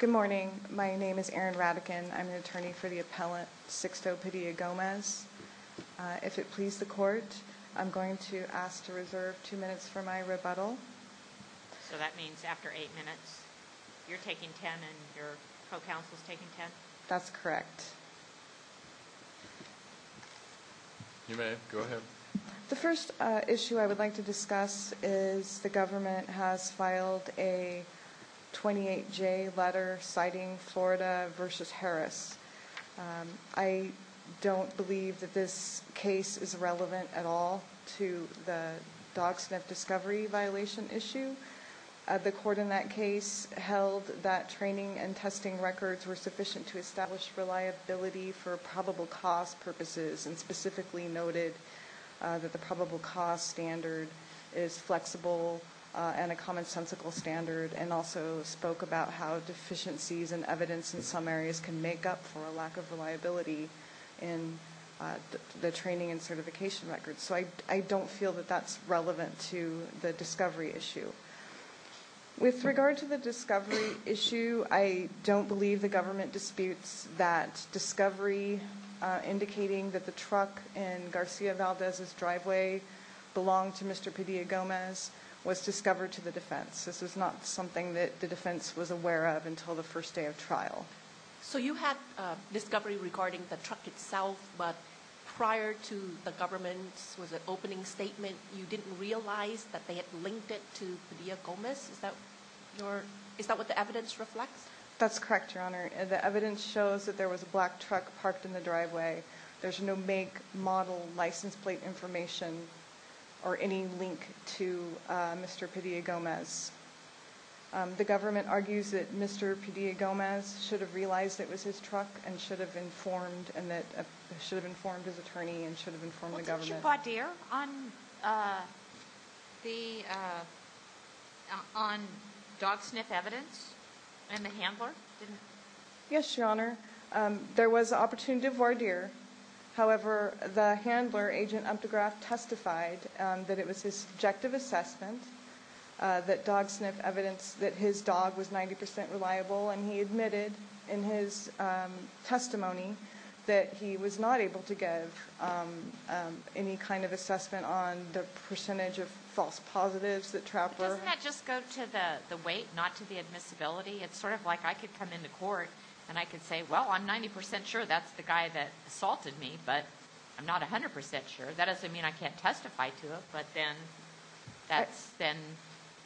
Good morning, my name is Erin Radekin. I'm an attorney for the appellant Sixto Padilla-Gomez If it please the court, I'm going to ask to reserve two minutes for my rebuttal So that means after eight minutes you're taking ten and your co-counsel is taking ten? That's correct You may, go ahead. The first issue I would like to discuss is the government has filed a 28-j letter citing Florida v. Harris I don't believe that this case is relevant at all to the dog sniff discovery violation issue The court in that case held that training and testing records were sufficient to establish reliability for probable cost purposes and specifically noted that the probable cost standard is spoke about how deficiencies and evidence in some areas can make up for a lack of reliability in The training and certification records, so I don't feel that that's relevant to the discovery issue With regard to the discovery issue. I don't believe the government disputes that discovery Indicating that the truck in Garcia Valdez's driveway belonged to Mr. Padilla-Gomez Was discovered to the defense. This was not something that the defense was aware of until the first day of trial So you had a discovery regarding the truck itself But prior to the government's opening statement, you didn't realize that they had linked it to Padilla-Gomez Is that what the evidence reflects? That's correct, your honor The evidence shows that there was a black truck parked in the driveway There's no make, model, license plate information or any link to Mr. Padilla-Gomez The government argues that Mr. Padilla-Gomez should have realized it was his truck and should have informed and that Should have informed his attorney and should have informed the government Was it your voir dire on dog sniff evidence and the handler? Yes, your honor There was opportunity of voir dire However, the handler, Agent Umtegraff, testified that it was his subjective assessment That dog sniff evidence that his dog was 90% reliable and he admitted in his Testimony that he was not able to give Any kind of assessment on the percentage of false positives that Trautler... Doesn't that just go to the weight, not to the admissibility? It's sort of like I could come into court and I could say, well, I'm 90% sure that's the guy that assaulted me But I'm not a hundred percent sure that doesn't mean I can't testify to it. But then that's then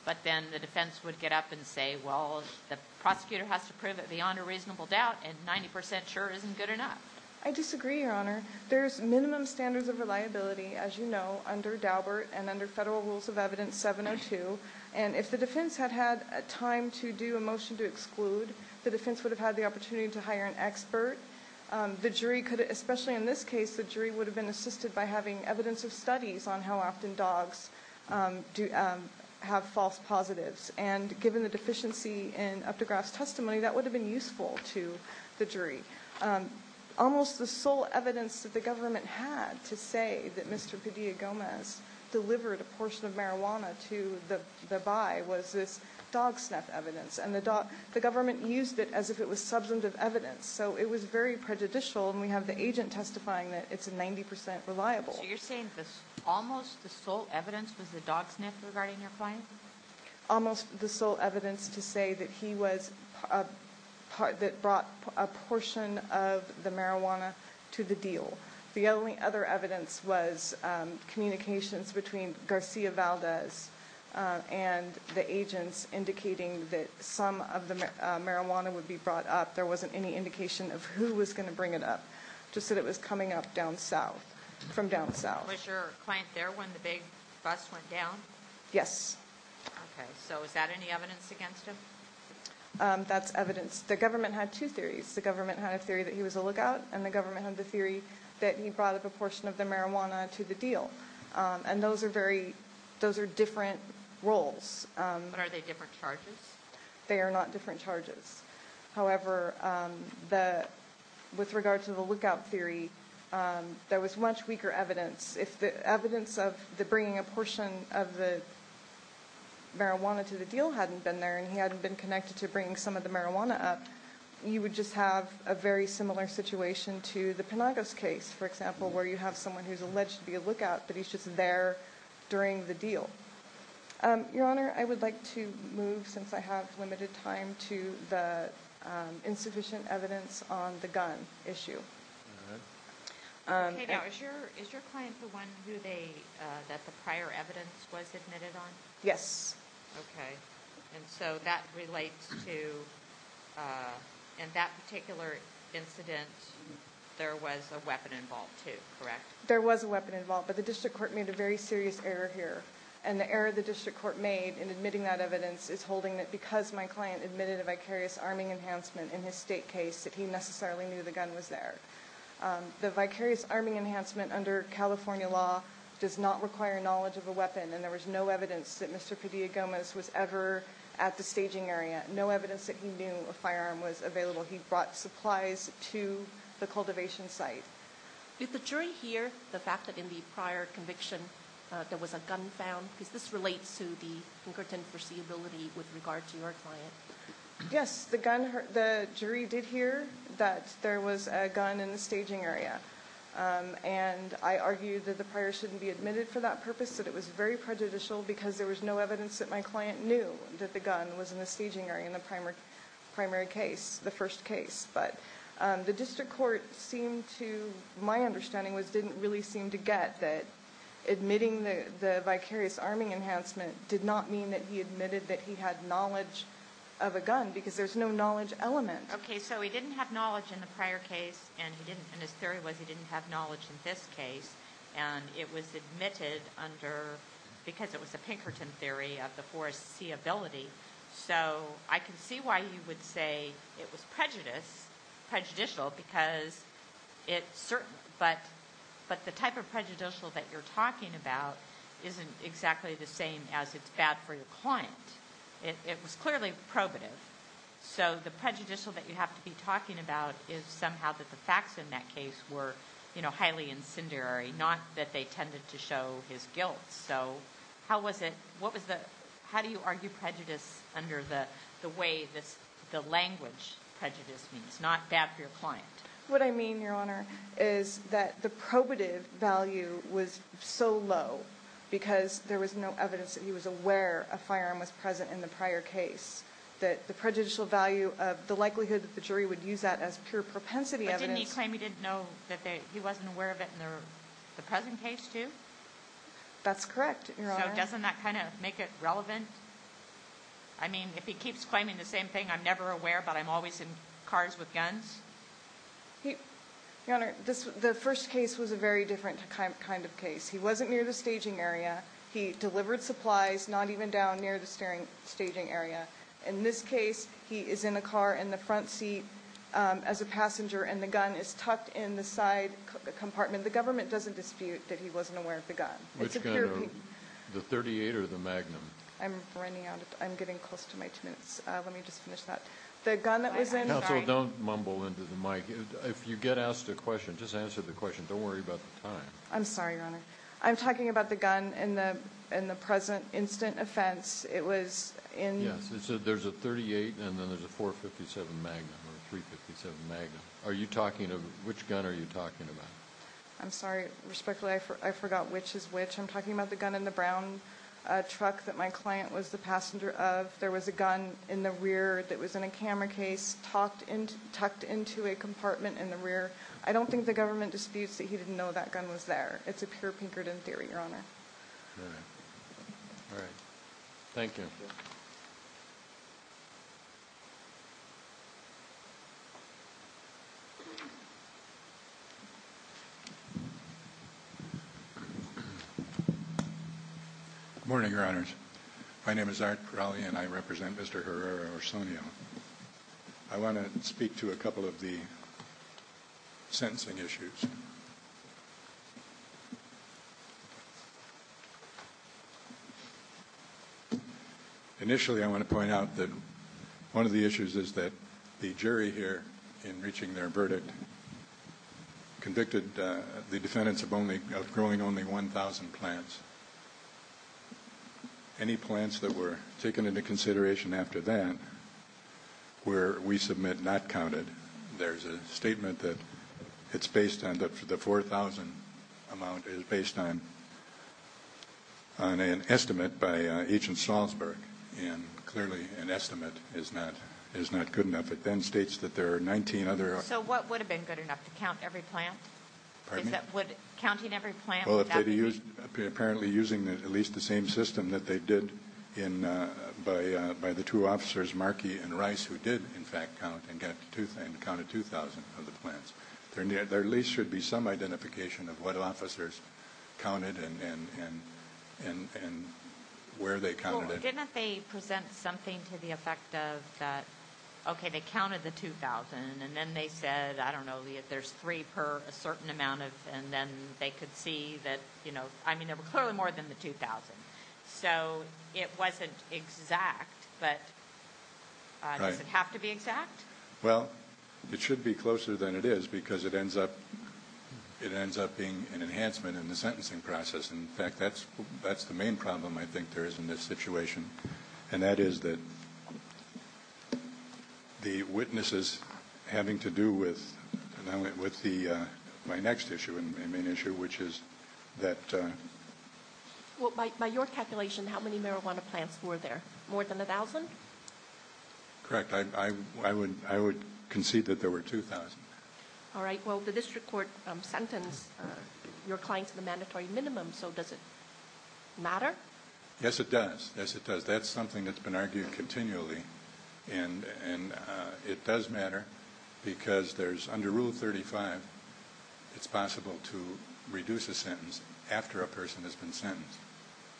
but then the defense would get up and say well the Prosecutor has to prove it beyond a reasonable doubt and 90% sure isn't good enough. I disagree, your honor There's minimum standards of reliability as you know under Daubert and under federal rules of evidence 1702 and if the defense had had a time to do a motion to exclude the defense would have had the opportunity to hire an expert The jury could especially in this case the jury would have been assisted by having evidence of studies on how often dogs Do have false positives and given the deficiency in Umtegraff's testimony that would have been useful to the jury Almost the sole evidence that the government had to say that Mr. Padilla Gomez Delivered a portion of marijuana to the the by was this dog snuff evidence and the dog the government used it as if it was Substantive evidence so it was very prejudicial and we have the agent testifying that it's a 90% reliable You're saying this almost the sole evidence was the dog sniff regarding your point almost the sole evidence to say that he was a Part that brought a portion of the marijuana to the deal. The only other evidence was Communications between Garcia Valdez And the agents indicating that some of the marijuana would be brought up There wasn't any indication of who was going to bring it up Just that it was coming up down south from down south was your client there when the big bus went down. Yes Okay, so is that any evidence against him? That's evidence the government had two theories the government had a theory that he was a lookout and the government had the theory That he brought up a portion of the marijuana to the deal and those are very those are different roles Are they different charges? They are not different charges however the With regard to the lookout theory there was much weaker evidence if the evidence of the bringing a portion of the Marijuana to the deal hadn't been there and he hadn't been connected to bringing some of the marijuana up You would just have a very similar situation to the Penagos case for example where you have someone who's alleged to be a lookout But he's just there during the deal Your honor. I would like to move since I have limited time to the insufficient evidence on the gun issue Yes, okay, and so that relates to In that particular incident There was a weapon involved too, correct? There was a weapon involved but the district court made a very serious error here and the error the district court made in admitting that Evidence is holding that because my client admitted a vicarious arming enhancement in his state case that he necessarily knew the gun was there The vicarious arming enhancement under California law does not require knowledge of a weapon and there was no evidence that mr Diagamas was ever at the staging area. No evidence that he knew a firearm was available He brought supplies to the cultivation site Did the jury hear the fact that in the prior conviction? There was a gun found because this relates to the Pinkerton foreseeability with regard to your client Yes, the gun the jury did hear that there was a gun in the staging area And I argued that the prior shouldn't be admitted for that purpose that it was very prejudicial because there was no evidence that my client Knew that the gun was in the staging area in the primary primary case the first case but the district court seemed to my understanding was didn't really seem to get that Admitting the vicarious arming enhancement did not mean that he admitted that he had knowledge of a gun because there's no knowledge element Okay, so he didn't have knowledge in the prior case and he didn't and his theory was he didn't have knowledge in this case And it was admitted under Because it was a Pinkerton theory of the forest see ability so I can see why he would say it was prejudice prejudicial because It's certain but but the type of prejudicial that you're talking about Isn't exactly the same as it's bad for your client. It was clearly probative So the prejudicial that you have to be talking about is somehow that the facts in that case were, you know Highly incendiary not that they tended to show his guilt. So how was it? What was the how do you argue prejudice under the the way this the language prejudice means not bad for your client? What I mean your honor is that the probative value was so low Because there was no evidence that he was aware a firearm was present in the prior case That the prejudicial value of the likelihood that the jury would use that as pure propensity evidence He claimed he didn't know that he wasn't aware of it in there the present case, too That's correct. Doesn't that kind of make it relevant? I Mean if he keeps claiming the same thing, I'm never aware, but I'm always in cars with guns He your honor this the first case was a very different kind of case he wasn't near the staging area He delivered supplies not even down near the steering staging area in this case He is in a car in the front seat as a passenger and the gun is tucked in the side Compartment the government doesn't dispute that he wasn't aware of the gun The 38 or the Magnum I'm running out. I'm getting close to my two minutes The gun that was in don't mumble into the mic if you get asked a question just answer the question don't worry about the time I'm sorry, your honor. I'm talking about the gun in the in the present instant offense. It was in yes It said there's a 38 and then there's a 457 Magnum Magnum are you talking of which gun are you talking about? I'm sorry respectfully. I forgot which is which I'm talking about the gun in the brown Truck that my client was the passenger of there was a gun in the rear that was in a camera case Talked and tucked into a compartment in the rear. I don't think the government disputes that he didn't know that gun was there It's a pure Pinkerton theory your honor Thank you You Morning your honors. My name is Art Crowley and I represent mr. Herrera or Sonia. I want to speak to a couple of the Sentencing issues You Initially I want to point out that one of the issues is that the jury here in reaching their verdict Convicted the defendants of only growing only 1,000 plants Any plants that were taken into consideration after that Where we submit not counted there's a statement that it's based on that for the 4,000 amount is based on On an estimate by agent Salzburg and clearly an estimate is not is not good enough It then states that there are 19 other. So what would have been good enough to count every plant? That would counting every plant Apparently using at least the same system that they did in By by the two officers marquee and rice who did in fact count and get tooth and counted 2,000 of the plants They're near there at least should be some identification of what officers counted and and and and Where they counted didn't they present something to the effect of that? Okay they counted the 2,000 and then they said I don't know if there's three per a certain amount of and then they could see that you know I mean there were clearly more than the 2,000 So it wasn't exact but Doesn't have to be exact. Well, it should be closer than it is because it ends up It ends up being an enhancement in the sentencing process. In fact, that's that's the main problem I think there is in this situation and that is that The witnesses having to do with with the my next issue and main issue, which is that Well by your calculation how many marijuana plants were there more than a thousand Correct. I would I would concede that there were 2,000. All right. Well the district court sentence Your clients in the mandatory minimum. So does it? Matter. Yes, it does. Yes, it does. That's something that's been argued continually and And it does matter because there's under rule 35 It's possible to reduce a sentence after a person has been sentenced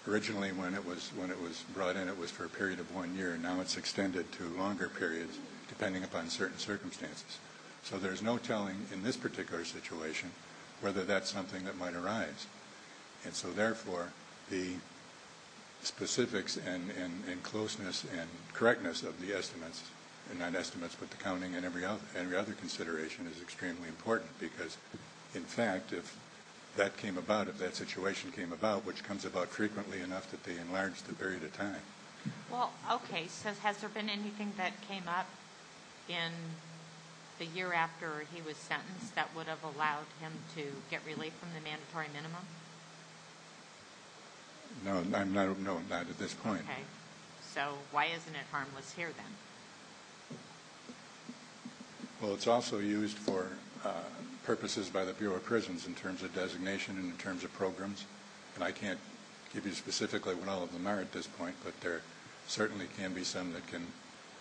Originally when it was when it was brought in it was for a period of one year now It's extended to longer periods depending upon certain circumstances so there's no telling in this particular situation whether that's something that might arise and so therefore the specifics and Closeness and correctness of the estimates and not estimates but the counting and every other and the other consideration is extremely important because in fact if That came about if that situation came about which comes about frequently enough that they enlarge the period of time Well, okay. So has there been anything that came up in? The year after he was sentenced that would have allowed him to get relief from the mandatory minimum No, no, I'm not at this point. Okay, so why isn't it harmless here then? Well, it's also used for Purposes by the Bureau of Prisons in terms of designation and in terms of programs and I can't give you specifically when all of them are at this point, but there certainly can be some that can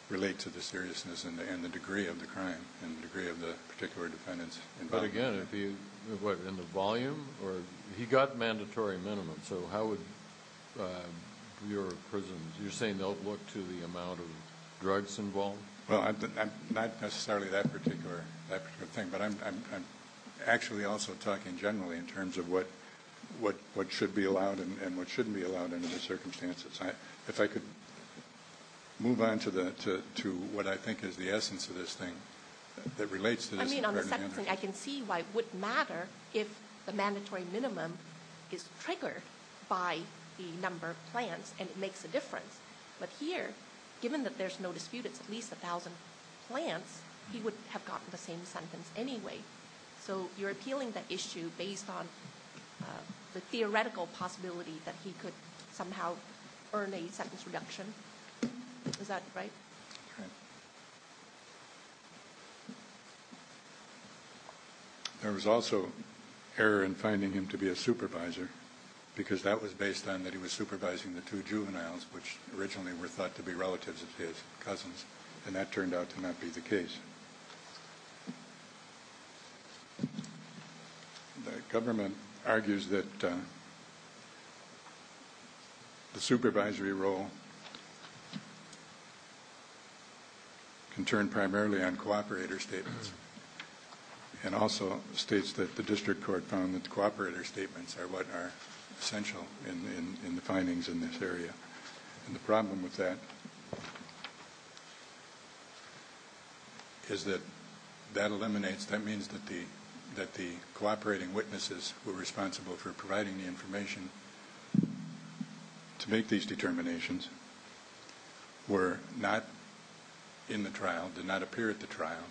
Relate to the seriousness and the end the degree of the crime and the degree of the particular defendants But again, if you what in the volume or he got mandatory minimum, so how would Your prison you're saying they'll look to the amount of drugs involved. Well, I'm not necessarily that particular thing, but I'm Actually also talking generally in terms of what what what should be allowed and what shouldn't be allowed under the circumstances. I if I could Move on to the to what I think is the essence of this thing that relates to I can see why it wouldn't matter if the mandatory minimum is triggered by the number of plants and it makes a difference But here given that there's no dispute. It's at least a thousand plants. He would have gotten the same sentence anyway So you're appealing that issue based on The theoretical possibility that he could somehow earn a sentence reduction Is that right? There was also Error in finding him to be a supervisor Because that was based on that He was supervising the two juveniles which originally were thought to be relatives of his cousins and that turned out to not be the case The government argues that The supervisory role Can Turn primarily on cooperator statements And also states that the district court found that the cooperator statements are what are essential in the findings in this area And the problem with that Is that that eliminates that means that the that the cooperating witnesses were responsible for providing the information To make these determinations Were not In the trial did not appear at the trial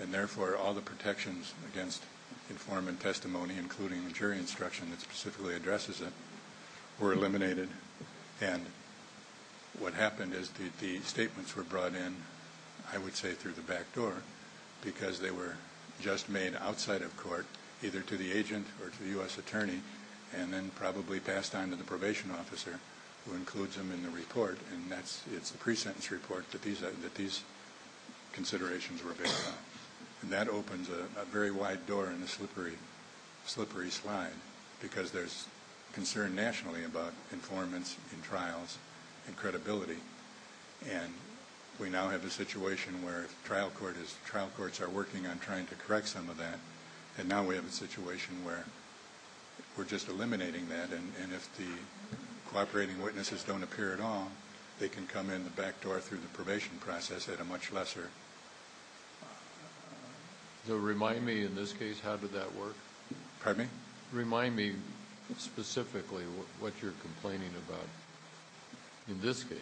and therefore all the protections against informant testimony including the jury instruction that specifically addresses it were eliminated and What happened is the statements were brought in I would say through the back door Because they were just made outside of court either to the agent or to the u.s. Attorney and then probably passed on to the probation officer who includes them in the report and that's it's a pre-sentence report that these are that these Considerations were based on and that opens a very wide door in the slippery slippery slide because there's concern nationally about informants in trials and credibility and We now have a situation where trial court is trial courts are working on trying to correct some of that and now we have a situation where we're just eliminating that and if the Cooperating witnesses don't appear at all. They can come in the back door through the probation process at a much lesser They'll remind me in this case, how did that work pardon me remind me specifically what you're complaining about in this case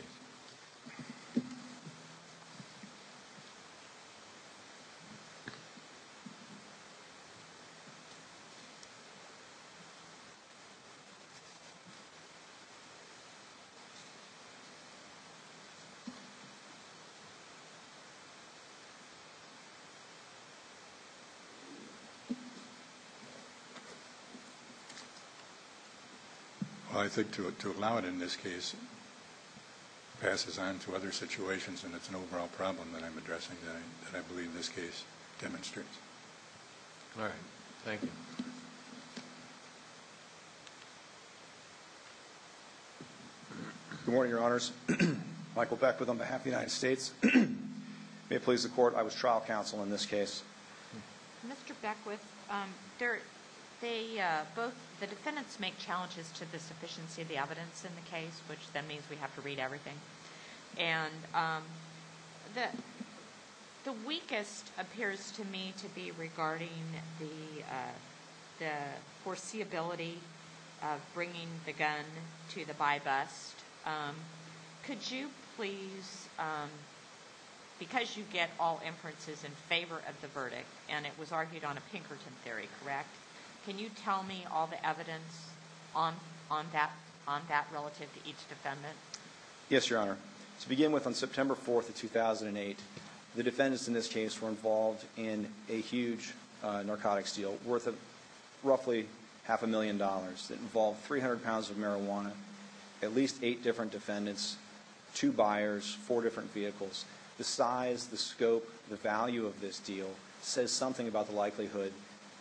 I Think to it to allow it in this case Passes on to other situations and it's an overall problem that I'm addressing that I believe in this case demonstrate Good morning, your honors Michael Beck with on behalf the United States may it please the court. I was trial counsel in this case Mr. Beck with there they both the defendants make challenges to the sufficiency of the evidence in the case which that means we have to read everything and The the weakest appears to me to be regarding the Foreseeability of bringing the gun to the by bus Could you please? Because you get all inferences in favor of the verdict and it was argued on a Pinkerton theory, correct Can you tell me all the evidence on on that on that relative to each defendant? Yes, your honor to begin with on September 4th of 2008 the defendants in this case were involved in a huge narcotics deal worth of Roughly half a million dollars that involved 300 pounds of marijuana at least eight different defendants Two buyers four different vehicles the size the scope the value of this deal says something about the likelihood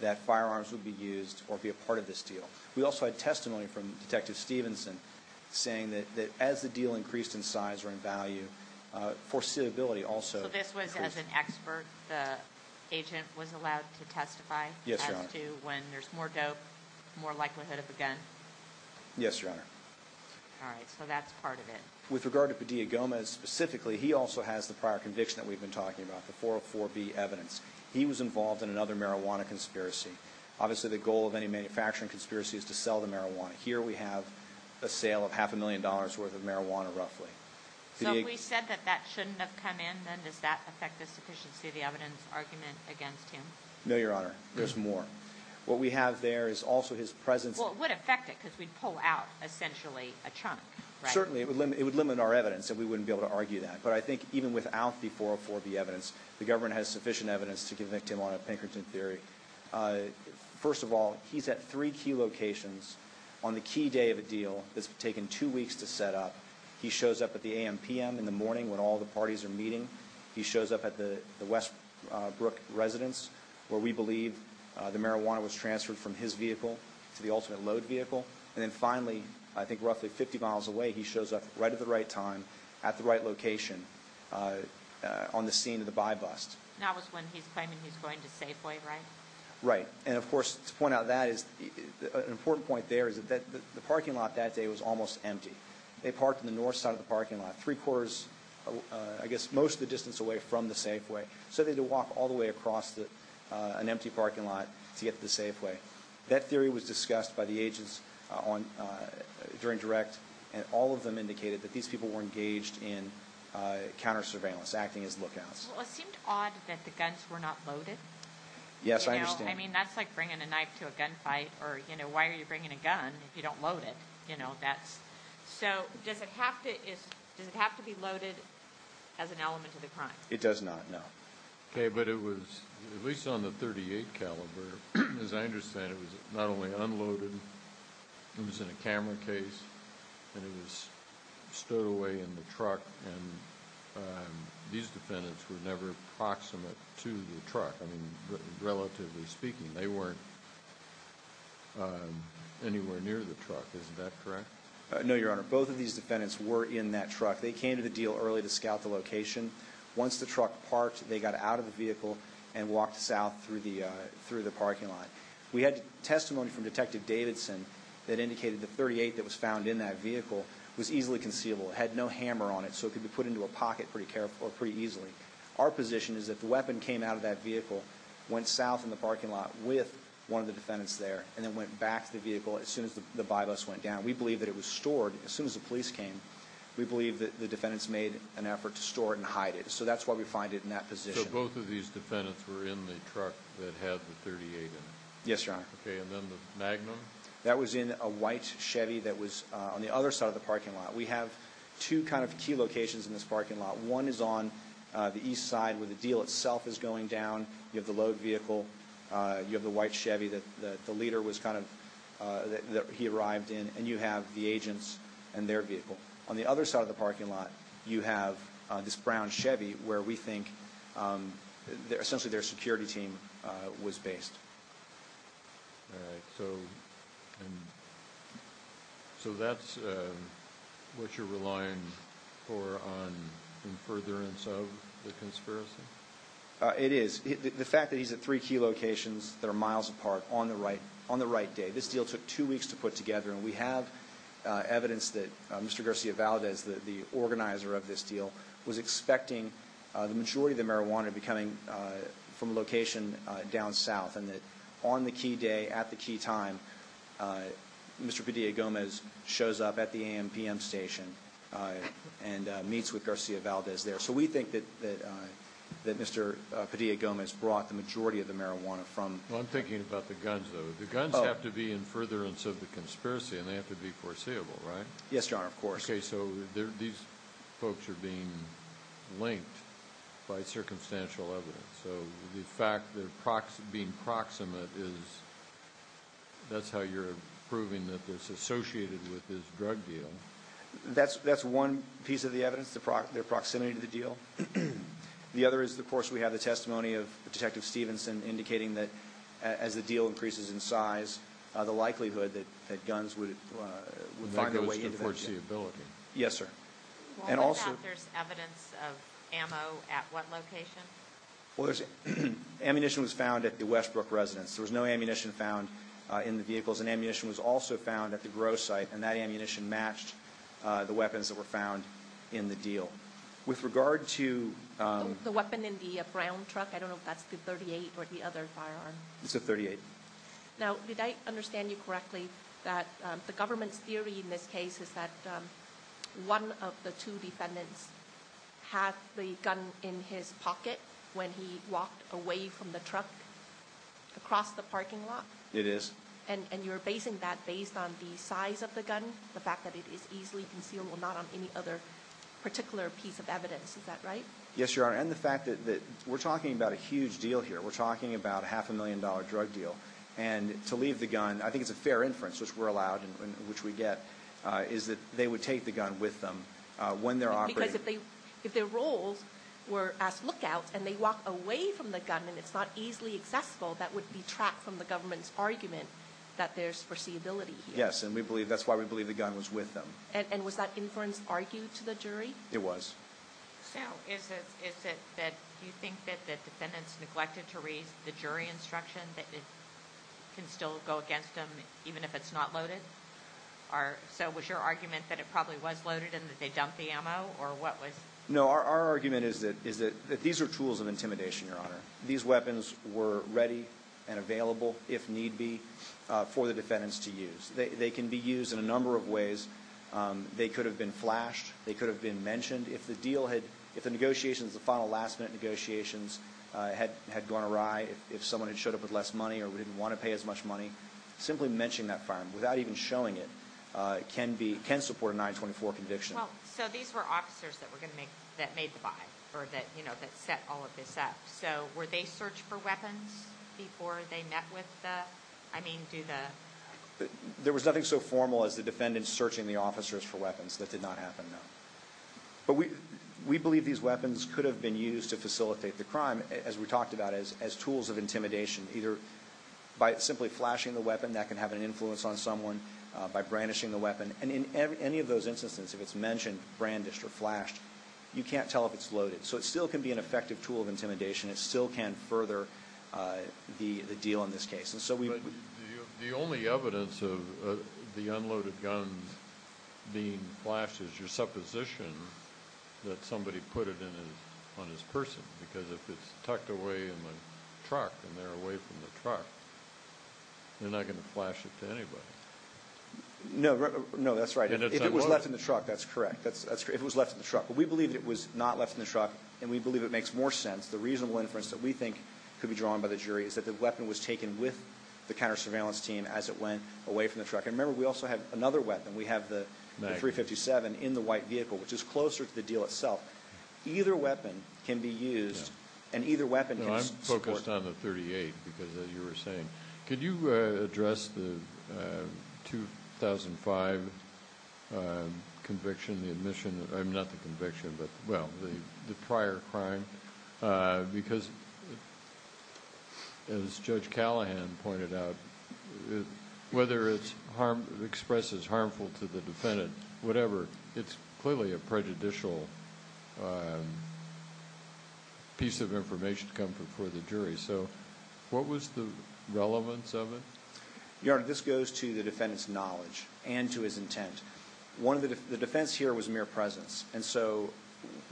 That firearms would be used or be a part of this deal We also had testimony from detective Stevenson saying that that as the deal increased in size or in value Foreseeability also this was as an expert the agent was allowed to testify. Yes I do when there's more dope more likelihood of a gun Yes, your honor All right, so that's part of it with regard to Padilla Gomez specifically He also has the prior conviction that we've been talking about the 404 B evidence He was involved in another marijuana conspiracy Obviously the goal of any manufacturing conspiracy is to sell the marijuana here We have a sale of half a million dollars worth of marijuana roughly So we said that that shouldn't have come in then does that affect the sufficiency of the evidence argument against him? No, your honor. There's more what we have. There is also his presence It would affect it because we'd pull out essentially a chunk certainly It would limit it would limit our evidence that we wouldn't be able to argue that but I think even without the 404 B evidence The government has sufficient evidence to convict him on a Pinkerton theory First of all, he's at three key locations on the key day of a deal that's taken two weeks to set up He shows up at the a.m. P.m. In the morning when all the parties are meeting. He shows up at the Westbrook Residents where we believe the marijuana was transferred from his vehicle to the ultimate load vehicle And then finally, I think roughly 50 miles away. He shows up right at the right time at the right location On the scene of the by bust Right and of course to point out that is Important point there is that the parking lot that day was almost empty They parked in the north side of the parking lot three quarters I guess most of the distance away from the Safeway So they do walk all the way across the an empty parking lot to get to the Safeway that theory was discussed by the agents on During direct and all of them indicated that these people were engaged in Counter surveillance acting as lookouts Yes, I mean that's like bringing a knife to a gunfight or you know, why are you bringing a gun if you don't load it As an element of the crime it does not know okay, but it was at least on the 38 caliber as I understand It was not only unloaded it was in a camera case and it was stowed away in the truck and These defendants were never proximate to the truck. I mean relatively speaking they weren't Anywhere near the truck, isn't that correct? No, your honor both of these defendants were in that truck They came to the deal early to scout the location Once the truck parked they got out of the vehicle and walked south through the through the parking lot We had testimony from detective Davidson that indicated the 38 that was found in that vehicle was easily conceivable It had no hammer on it So it could be put into a pocket pretty careful or pretty easily our position is that the weapon came out of that vehicle went south in the parking lot with One of the defendants there and then went back to the vehicle as soon as the by bus went down We believe that it was stored as soon as the police came We believe that the defendants made an effort to store it and hide it So that's why we find it in that position both of these defendants were in the truck that had the 38 Yes, your honor. Okay, and then the Magnum that was in a white Chevy that was on the other side of the parking lot We have two kind of key locations in this parking lot One is on the east side where the deal itself is going down. You have the load vehicle You have the white Chevy that the leader was kind of He arrived in and you have the agents and their vehicle on the other side of the parking lot you have This brown Chevy where we think They're essentially their security team was based So that's What you're relying for on? in furtherance of the conspiracy It is the fact that he's at three key locations That are miles apart on the right on the right day. This deal took two weeks to put together and we have Evidence that mr. Garcia Valdez the organizer of this deal was expecting the majority of the marijuana becoming From location down south and that on the key day at the key time Mr. Padilla Gomez shows up at the am-pm station and meets with Garcia Valdez there. So we think that that Mr. Padilla Gomez brought the majority of the marijuana from I'm thinking about the guns though The guns have to be in furtherance of the conspiracy and they have to be foreseeable, right? Yes, John, of course Okay, so these folks are being Linked by circumstantial evidence. So the fact that proxy being proximate is That's how you're proving that this associated with this drug deal That's that's one piece of the evidence the product their proximity to the deal The other is the course we have the testimony of the detective Stevenson indicating that as the deal increases in size the likelihood that that guns would Find the way into the ability. Yes, sir Well, there's Ammunition was found at the Westbrook residence There was no ammunition found in the vehicles and ammunition was also found at the growth site and that ammunition matched The weapons that were found in the deal with regard to The weapon in the brown truck. I don't know if that's the 38 or the other firearm. It's a 38 Now did I understand you correctly that the government's theory in this case is that? one of the two defendants Had the gun in his pocket when he walked away from the truck Across the parking lot it is and and you're basing that based on the size of the gun the fact that it is easily Concealable not on any other Particular piece of evidence. Is that right? Yes, your honor and the fact that we're talking about a huge deal here We're talking about half a million dollar drug deal and to leave the gun I think it's a fair inference which we're allowed and which we get is that they would take the gun with them If their roles were as lookouts and they walk away from the gun and it's not easily accessible That would be trapped from the government's argument that there's foreseeability Yes, and we believe that's why we believe the gun was with them. And was that inference argued to the jury? It was Is it that you think that the defendants neglected to raise the jury instruction that it? Can still go against them even if it's not loaded Are so was your argument that it probably was loaded and that they dumped the ammo or what was no our argument Is that is it that these are tools of intimidation your honor? These weapons were ready and available if need be for the defendants to use they can be used in a number of ways They could have been flashed They could have been mentioned if the deal had if the negotiations the final last-minute negotiations Had had gone awry if someone had showed up with less money or we didn't want to pay as much money Simply mentioning that firearm without even showing it can be can support a 924 conviction So these were officers that were gonna make that made the buy or that you know that set all of this up So were they searched for weapons before they met with that? I mean do that There was nothing so formal as the defendant searching the officers for weapons that did not happen But we we believe these weapons could have been used to facilitate the crime as we talked about as as tools of intimidation either By simply flashing the weapon that can have an influence on someone By brandishing the weapon and in any of those instances if it's mentioned brandished or flashed You can't tell if it's loaded so it still can be an effective tool of intimidation. It still can further The the deal in this case and so we the only evidence of the unloaded guns being flashes your supposition that You're not gonna flash it to anybody No, no, that's right. It was left in the truck. That's correct That's that's great It was left in the truck but we believe it was not left in the truck and we believe it makes more sense the reasonable inference that we think could Be drawn by the jury is that the weapon was taken with the counter-surveillance team as it went away from the truck I remember we also have another weapon. We have the 357 in the white vehicle, which is closer to the deal itself. Either weapon can be used and either weapon Focused on the 38 because as you were saying, could you address the 2005 Conviction the admission I'm not the conviction but well the prior crime because As judge Callahan pointed out Whether it's harm expresses harmful to the defendant, whatever. It's clearly a prejudicial Piece of information to come before the jury. So what was the relevance of it, you know This goes to the defendants knowledge and to his intent one of the defense here was mere presence. And so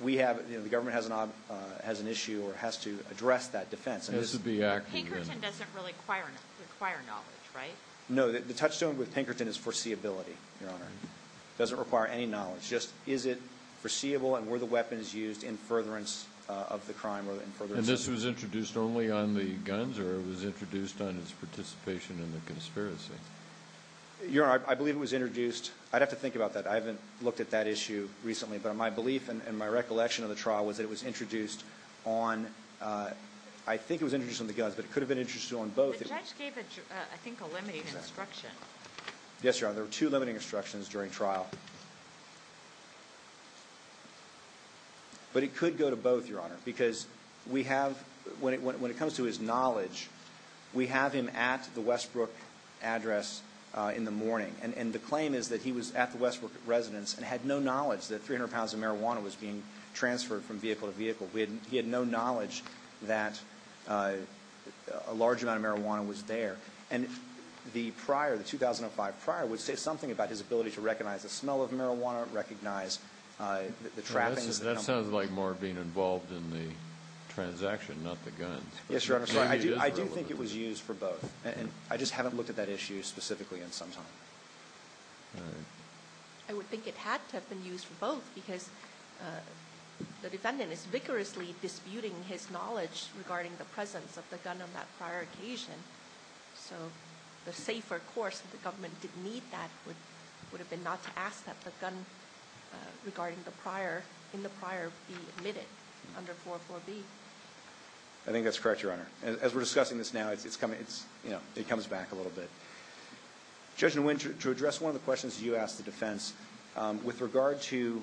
We have the government has an odd has an issue or has to address that defense. This is the act No, the touchstone with Pinkerton is foreseeability, your honor doesn't require any knowledge just is it foreseeable And were the weapons used in furtherance of the crime or in for this was introduced only on the guns or was introduced on its participation in the conspiracy Your I believe it was introduced. I'd have to think about that I haven't looked at that issue recently, but on my belief and my recollection of the trial was that it was introduced on I think it was introduced on the guns, but it could have been interested on both Yes, your honor there were two limiting instructions during trial But it could go to both your honor because we have when it when it comes to his knowledge We have him at the Westbrook Address in the morning and and the claim is that he was at the Westbrook Residence and had no knowledge that 300 pounds of marijuana was being transferred from vehicle to vehicle. We had he had no knowledge that a large amount of marijuana was there and The prior the 2005 prior would say something about his ability to recognize the smell of marijuana recognize The trappings that sounds like more being involved in the Transaction not the guns. Yes, your honor. So I do I do think it was used for both And I just haven't looked at that issue specifically in some time I would think it had to have been used for both because The defendant is vigorously disputing his knowledge regarding the presence of the gun on that prior occasion So the safer course the government didn't need that would would have been not to ask that the gun Regarding the prior in the prior be admitted under 404 B. I Think that's correct. Your honor as we're discussing this now, it's coming. It's you know, it comes back a little bit Judge in winter to address one of the questions you asked the defense with regard to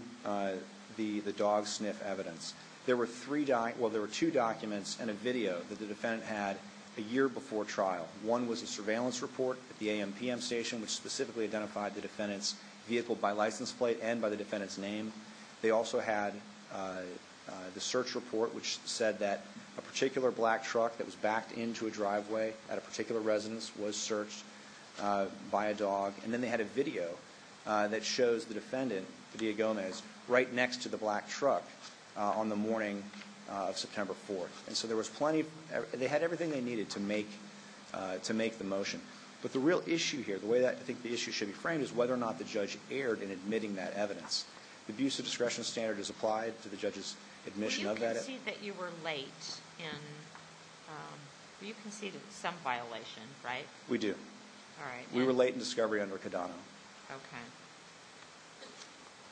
The the dog sniff evidence there were three die Well, there were two documents and a video that the defendant had a year before trial One was a surveillance report at the a.m. P.m Station which specifically identified the defendants vehicle by license plate and by the defendants name. They also had The search report which said that a particular black truck that was backed into a driveway at a particular residence was searched By a dog and then they had a video That shows the defendant the Diagones right next to the black truck on the morning of September 4th And so there was plenty they had everything they needed to make To make the motion But the real issue here the way that I think the issue should be framed is whether or not the judge erred in admitting that Evidence the abuse of discretion standard is applied to the judge's admission of that you were late You conceded some violation right we do all right, we were late in discovery under Kidano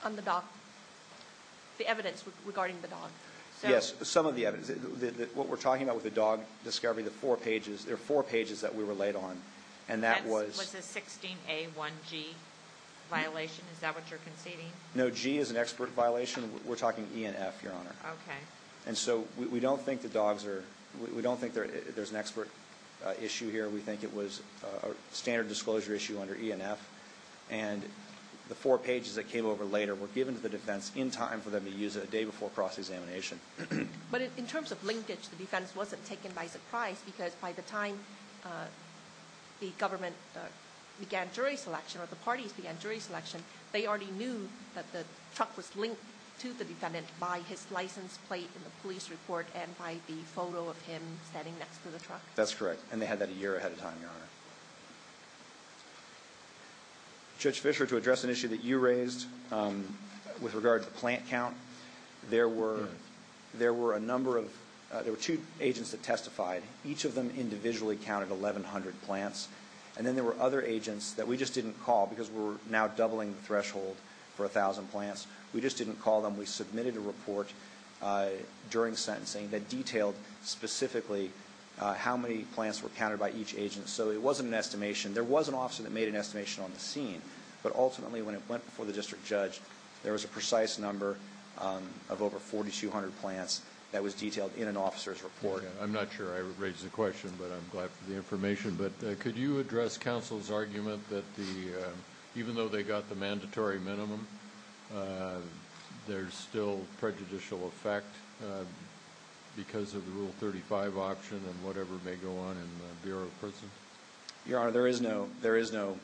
On the dock The evidence regarding the dog. Yes, some of the evidence that what we're talking about with the dog discovery the four pages There are four pages that we were late on and that was Violation is that what you're conceding? No G is an expert violation. We're talking ENF your honor Okay, and so we don't think the dogs are we don't think there's an expert issue here. We think it was a standard disclosure issue under ENF and The four pages that came over later were given to the defense in time for them to use it a day before cross-examination But in terms of linkage the defense wasn't taken by surprise because by the time the government Began jury selection or the parties began jury selection They already knew that the truck was linked to the defendant by his license plate in the police report and by the photo of him That's correct, and they had that a year ahead of time your honor Judge Fisher to address an issue that you raised With regard to the plant count There were there were a number of there were two agents that testified each of them individually counted 1,100 plants and then there were other agents that we just didn't call because we're now doubling the threshold for a thousand plants We just didn't call them. We submitted a report during sentencing that detailed Specifically how many plants were counted by each agent? So it wasn't an estimation there was an officer that made an estimation on the scene But ultimately when it went before the district judge there was a precise number Of over 4,200 plants that was detailed in an officer's report I'm not sure I raised the question, but I'm glad for the information, but could you address counsel's argument that the Even though they got the mandatory minimum There's still prejudicial effect Because of the rule 35 option and whatever may go on in the Bureau of Prisons your honor. There is no there is no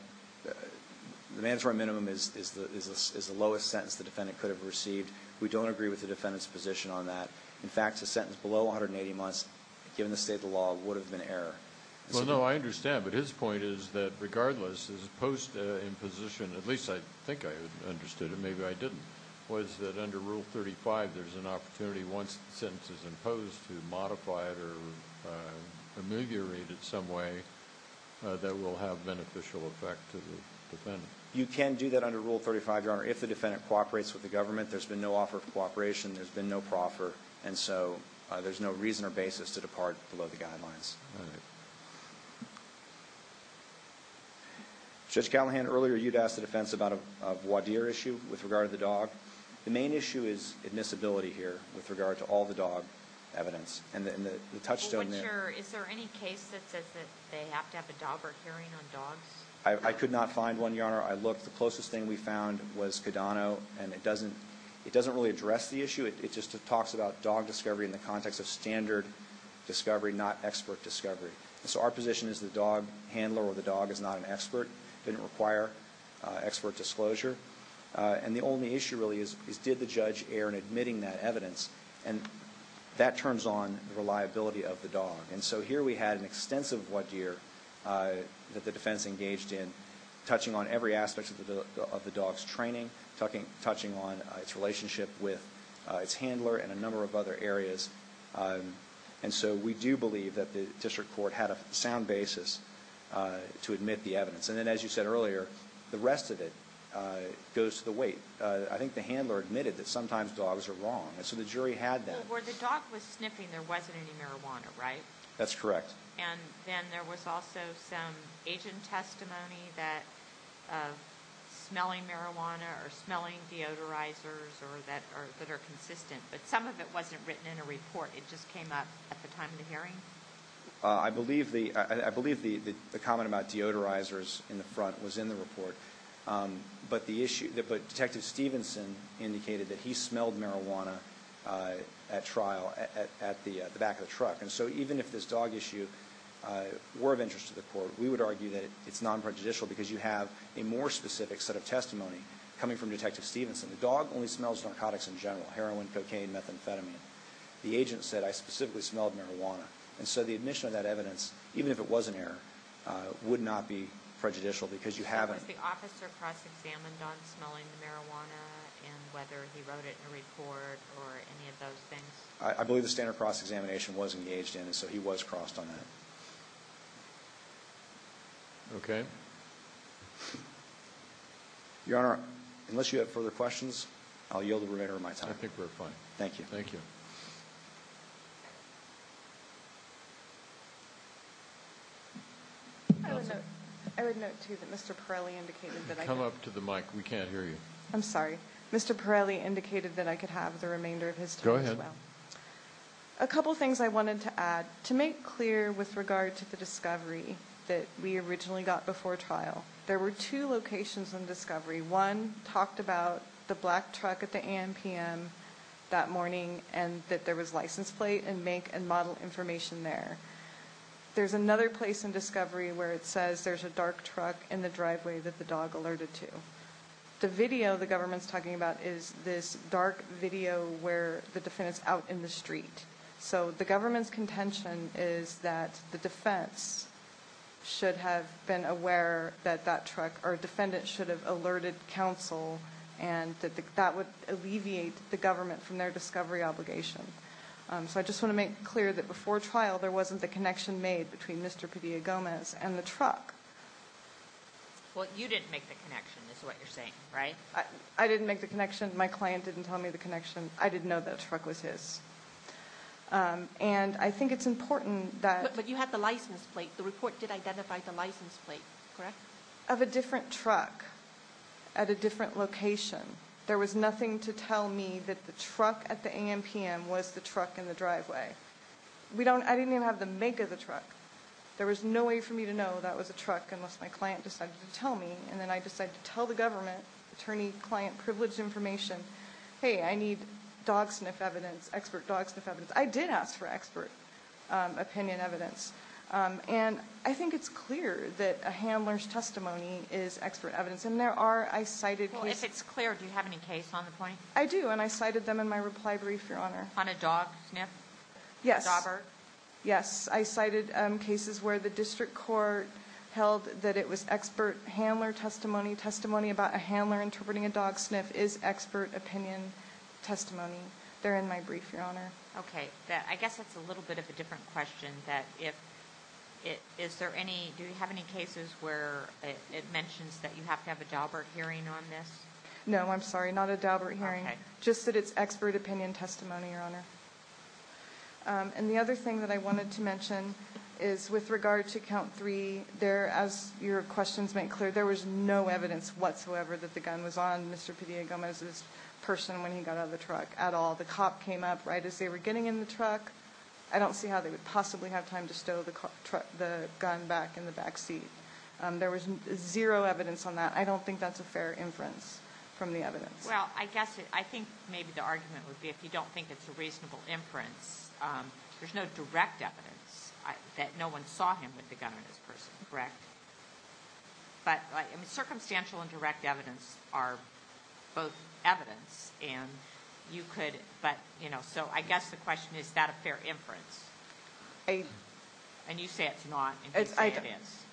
The mandatory minimum is the lowest sentence the defendant could have received We don't agree with the defendant's position on that in fact a sentence below 180 months given the state of the law would have been error Well, no, I understand, but his point is that regardless as opposed to imposition at least I think I understood it Maybe I didn't was that under rule 35. There's an opportunity once the sentence is imposed to modify it or ameliorate it some way That will have beneficial effect to the defendant you can do that under rule 35 your honor if the defendant cooperates with the government There's been no offer of cooperation. There's been no proffer, and so there's no reason or basis to depart below the guidelines Judge Callahan earlier you'd asked the defense about a voir dire issue with regard to the dog The main issue is admissibility here with regard to all the dog evidence and the touchstone I Could not find one your honor. I looked the closest thing We found was Codano, and it doesn't it doesn't really address the issue It just talks about dog discovery in the context of standard Discovery not expert discovery so our position is the dog handler or the dog is not an expert didn't require expert disclosure and the only issue really is did the judge air and admitting that evidence and That turns on the reliability of the dog and so here we had an extensive voir dire That the defense engaged in touching on every aspect of the of the dogs training talking touching on its relationship with Its handler and a number of other areas And so we do believe that the district court had a sound basis To admit the evidence and then as you said earlier the rest of it Goes to the weight I think the handler admitted that sometimes dogs are wrong and so the jury had that where the dog was sniffing there wasn't any marijuana Right, that's correct, and then there was also some agent testimony that Smelling marijuana or smelling deodorizers or that are that are consistent, but some of it wasn't written in a report It just came up at the time of the hearing I believe the I believe the the comment about deodorizers in the front was in the report But the issue that but detective Stevenson indicated that he smelled marijuana At trial at the back of the truck and so even if this dog issue Were of interest to the court we would argue that it's non prejudicial because you have a more specific set of testimony Coming from detective Stevenson the dog only smells narcotics in general heroin cocaine methamphetamine The agent said I specifically smelled marijuana and so the admission of that evidence even if it was an error Would not be prejudicial because you haven't I believe the standard cross-examination was engaged in and so he was crossed on that Okay Your honor unless you have further questions, I'll yield the remainder of my time. I think we're fine. Thank you. Thank you I would note to that. Mr. Pirelli indicated that I come up to the mic. We can't hear you. I'm sorry Mr. Pirelli indicated that I could have the remainder of his go ahead a Couple things I wanted to add to make clear with regard to the discovery that we originally got before trial There were two locations in discovery one talked about the black truck at the a.m. P.m. That morning and that there was license plate and make and model information there There's another place in discovery where it says there's a dark truck in the driveway that the dog alerted to The video the government's talking about is this dark video where the defendants out in the street? So the government's contention is that the defense? should have been aware that that truck or defendant should have alerted counsel and That would alleviate the government from their discovery obligation So I just want to make clear that before trial there wasn't the connection made between mr. Padilla Gomez and the truck What you didn't make the connection is what you're saying, right? I didn't make the connection. My client didn't tell me the connection I didn't know that truck was his And I think it's important that but you have the license plate. The report did identify the license plate of a different truck at A different location. There was nothing to tell me that the truck at the a.m. P.m. Was the truck in the driveway We don't I didn't even have the make of the truck There was no way for me to know that was a truck unless my client decided to tell me and then I decided to tell The government attorney client privileged information. Hey, I need dog sniff evidence expert dog sniff evidence. I did ask for expert opinion evidence And I think it's clear that a handler's testimony is expert evidence and there are I cited if it's clear Do you have any case on the point? I do and I cited them in my reply brief your honor on a dog sniff Yes Yes, I cited cases where the district court held that it was expert handler testimony testimony about a handler Interpreting a dog sniff is expert opinion Testimony there in my brief your honor Okay, I guess that's a little bit of a different question that if It is there any do you have any cases where it mentions that you have to have a job or hearing on this? No, I'm sorry. Not a job or hearing just that it's expert opinion testimony your honor And the other thing that I wanted to mention is with regard to count three there as your questions make clear There was no evidence whatsoever that the gun was on. Mr Gomez's person when he got out of the truck at all the cop came up right as they were getting in the truck I don't see how they would possibly have time to stow the truck the gun back in the back seat There was zero evidence on that. I don't think that's a fair inference from the evidence Well, I guess I think maybe the argument would be if you don't think it's a reasonable inference There's no direct evidence that no one saw him with the gun on his person, correct? but I mean circumstantial and direct evidence are both evidence and You could but you know, so I guess the question is that a fair inference. Hey And you say it's not as I guess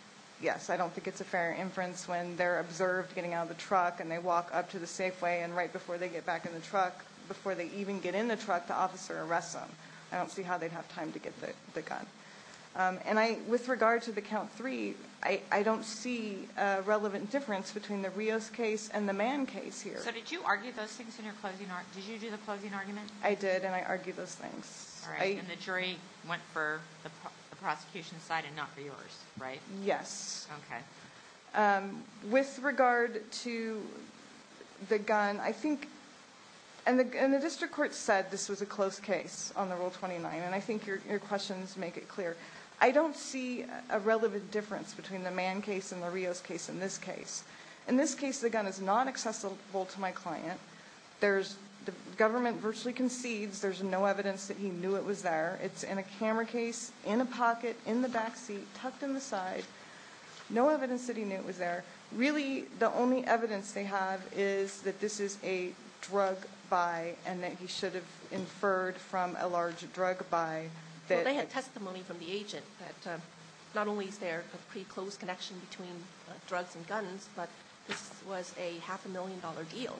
Yes I don't think it's a fair inference when they're observed getting out of the truck and they walk up to the Safeway and right before They get back in the truck before they even get in the truck to officer arrest them I don't see how they'd have time to get the gun And I with regard to the count three I don't see a relevant difference between the Rios case and the man case here So did you argue those things in your closing art? Did you do the closing argument? I did and I argued those things I the jury went for the prosecution side and not for yours, right? Yes With regard to the gun I think and The district court said this was a close case on the rule 29 and I think your questions make it clear I don't see a relevant difference between the man case in the Rios case in this case in this case The gun is not accessible to my client. There's the government virtually concedes. There's no evidence that he knew it was there It's in a camera case in a pocket in the backseat tucked in the side No evidence that he knew it was there. Really the only evidence they have is that this is a drug by and that he should Inferred from a large drug by that they had testimony from the agent that Not only is there a pretty close connection between drugs and guns, but this was a half a million dollar deal,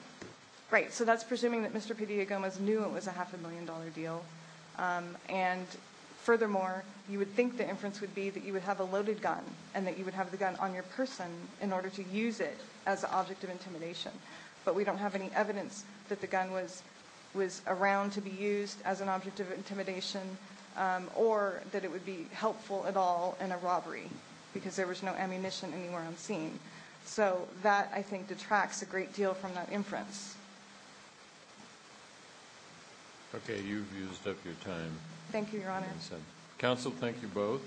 right? So that's presuming that mr. P Diagomas knew it was a half a million dollar deal and furthermore You would think the inference would be that you would have a loaded gun and that you would have the gun on your person In order to use it as an object of intimidation But we don't have any evidence that the gun was was around to be used as an object of intimidation Or that it would be helpful at all in a robbery because there was no ammunition anywhere on scene So that I think detracts a great deal from that inference Okay, you've used up your time thank you your honor council, thank you both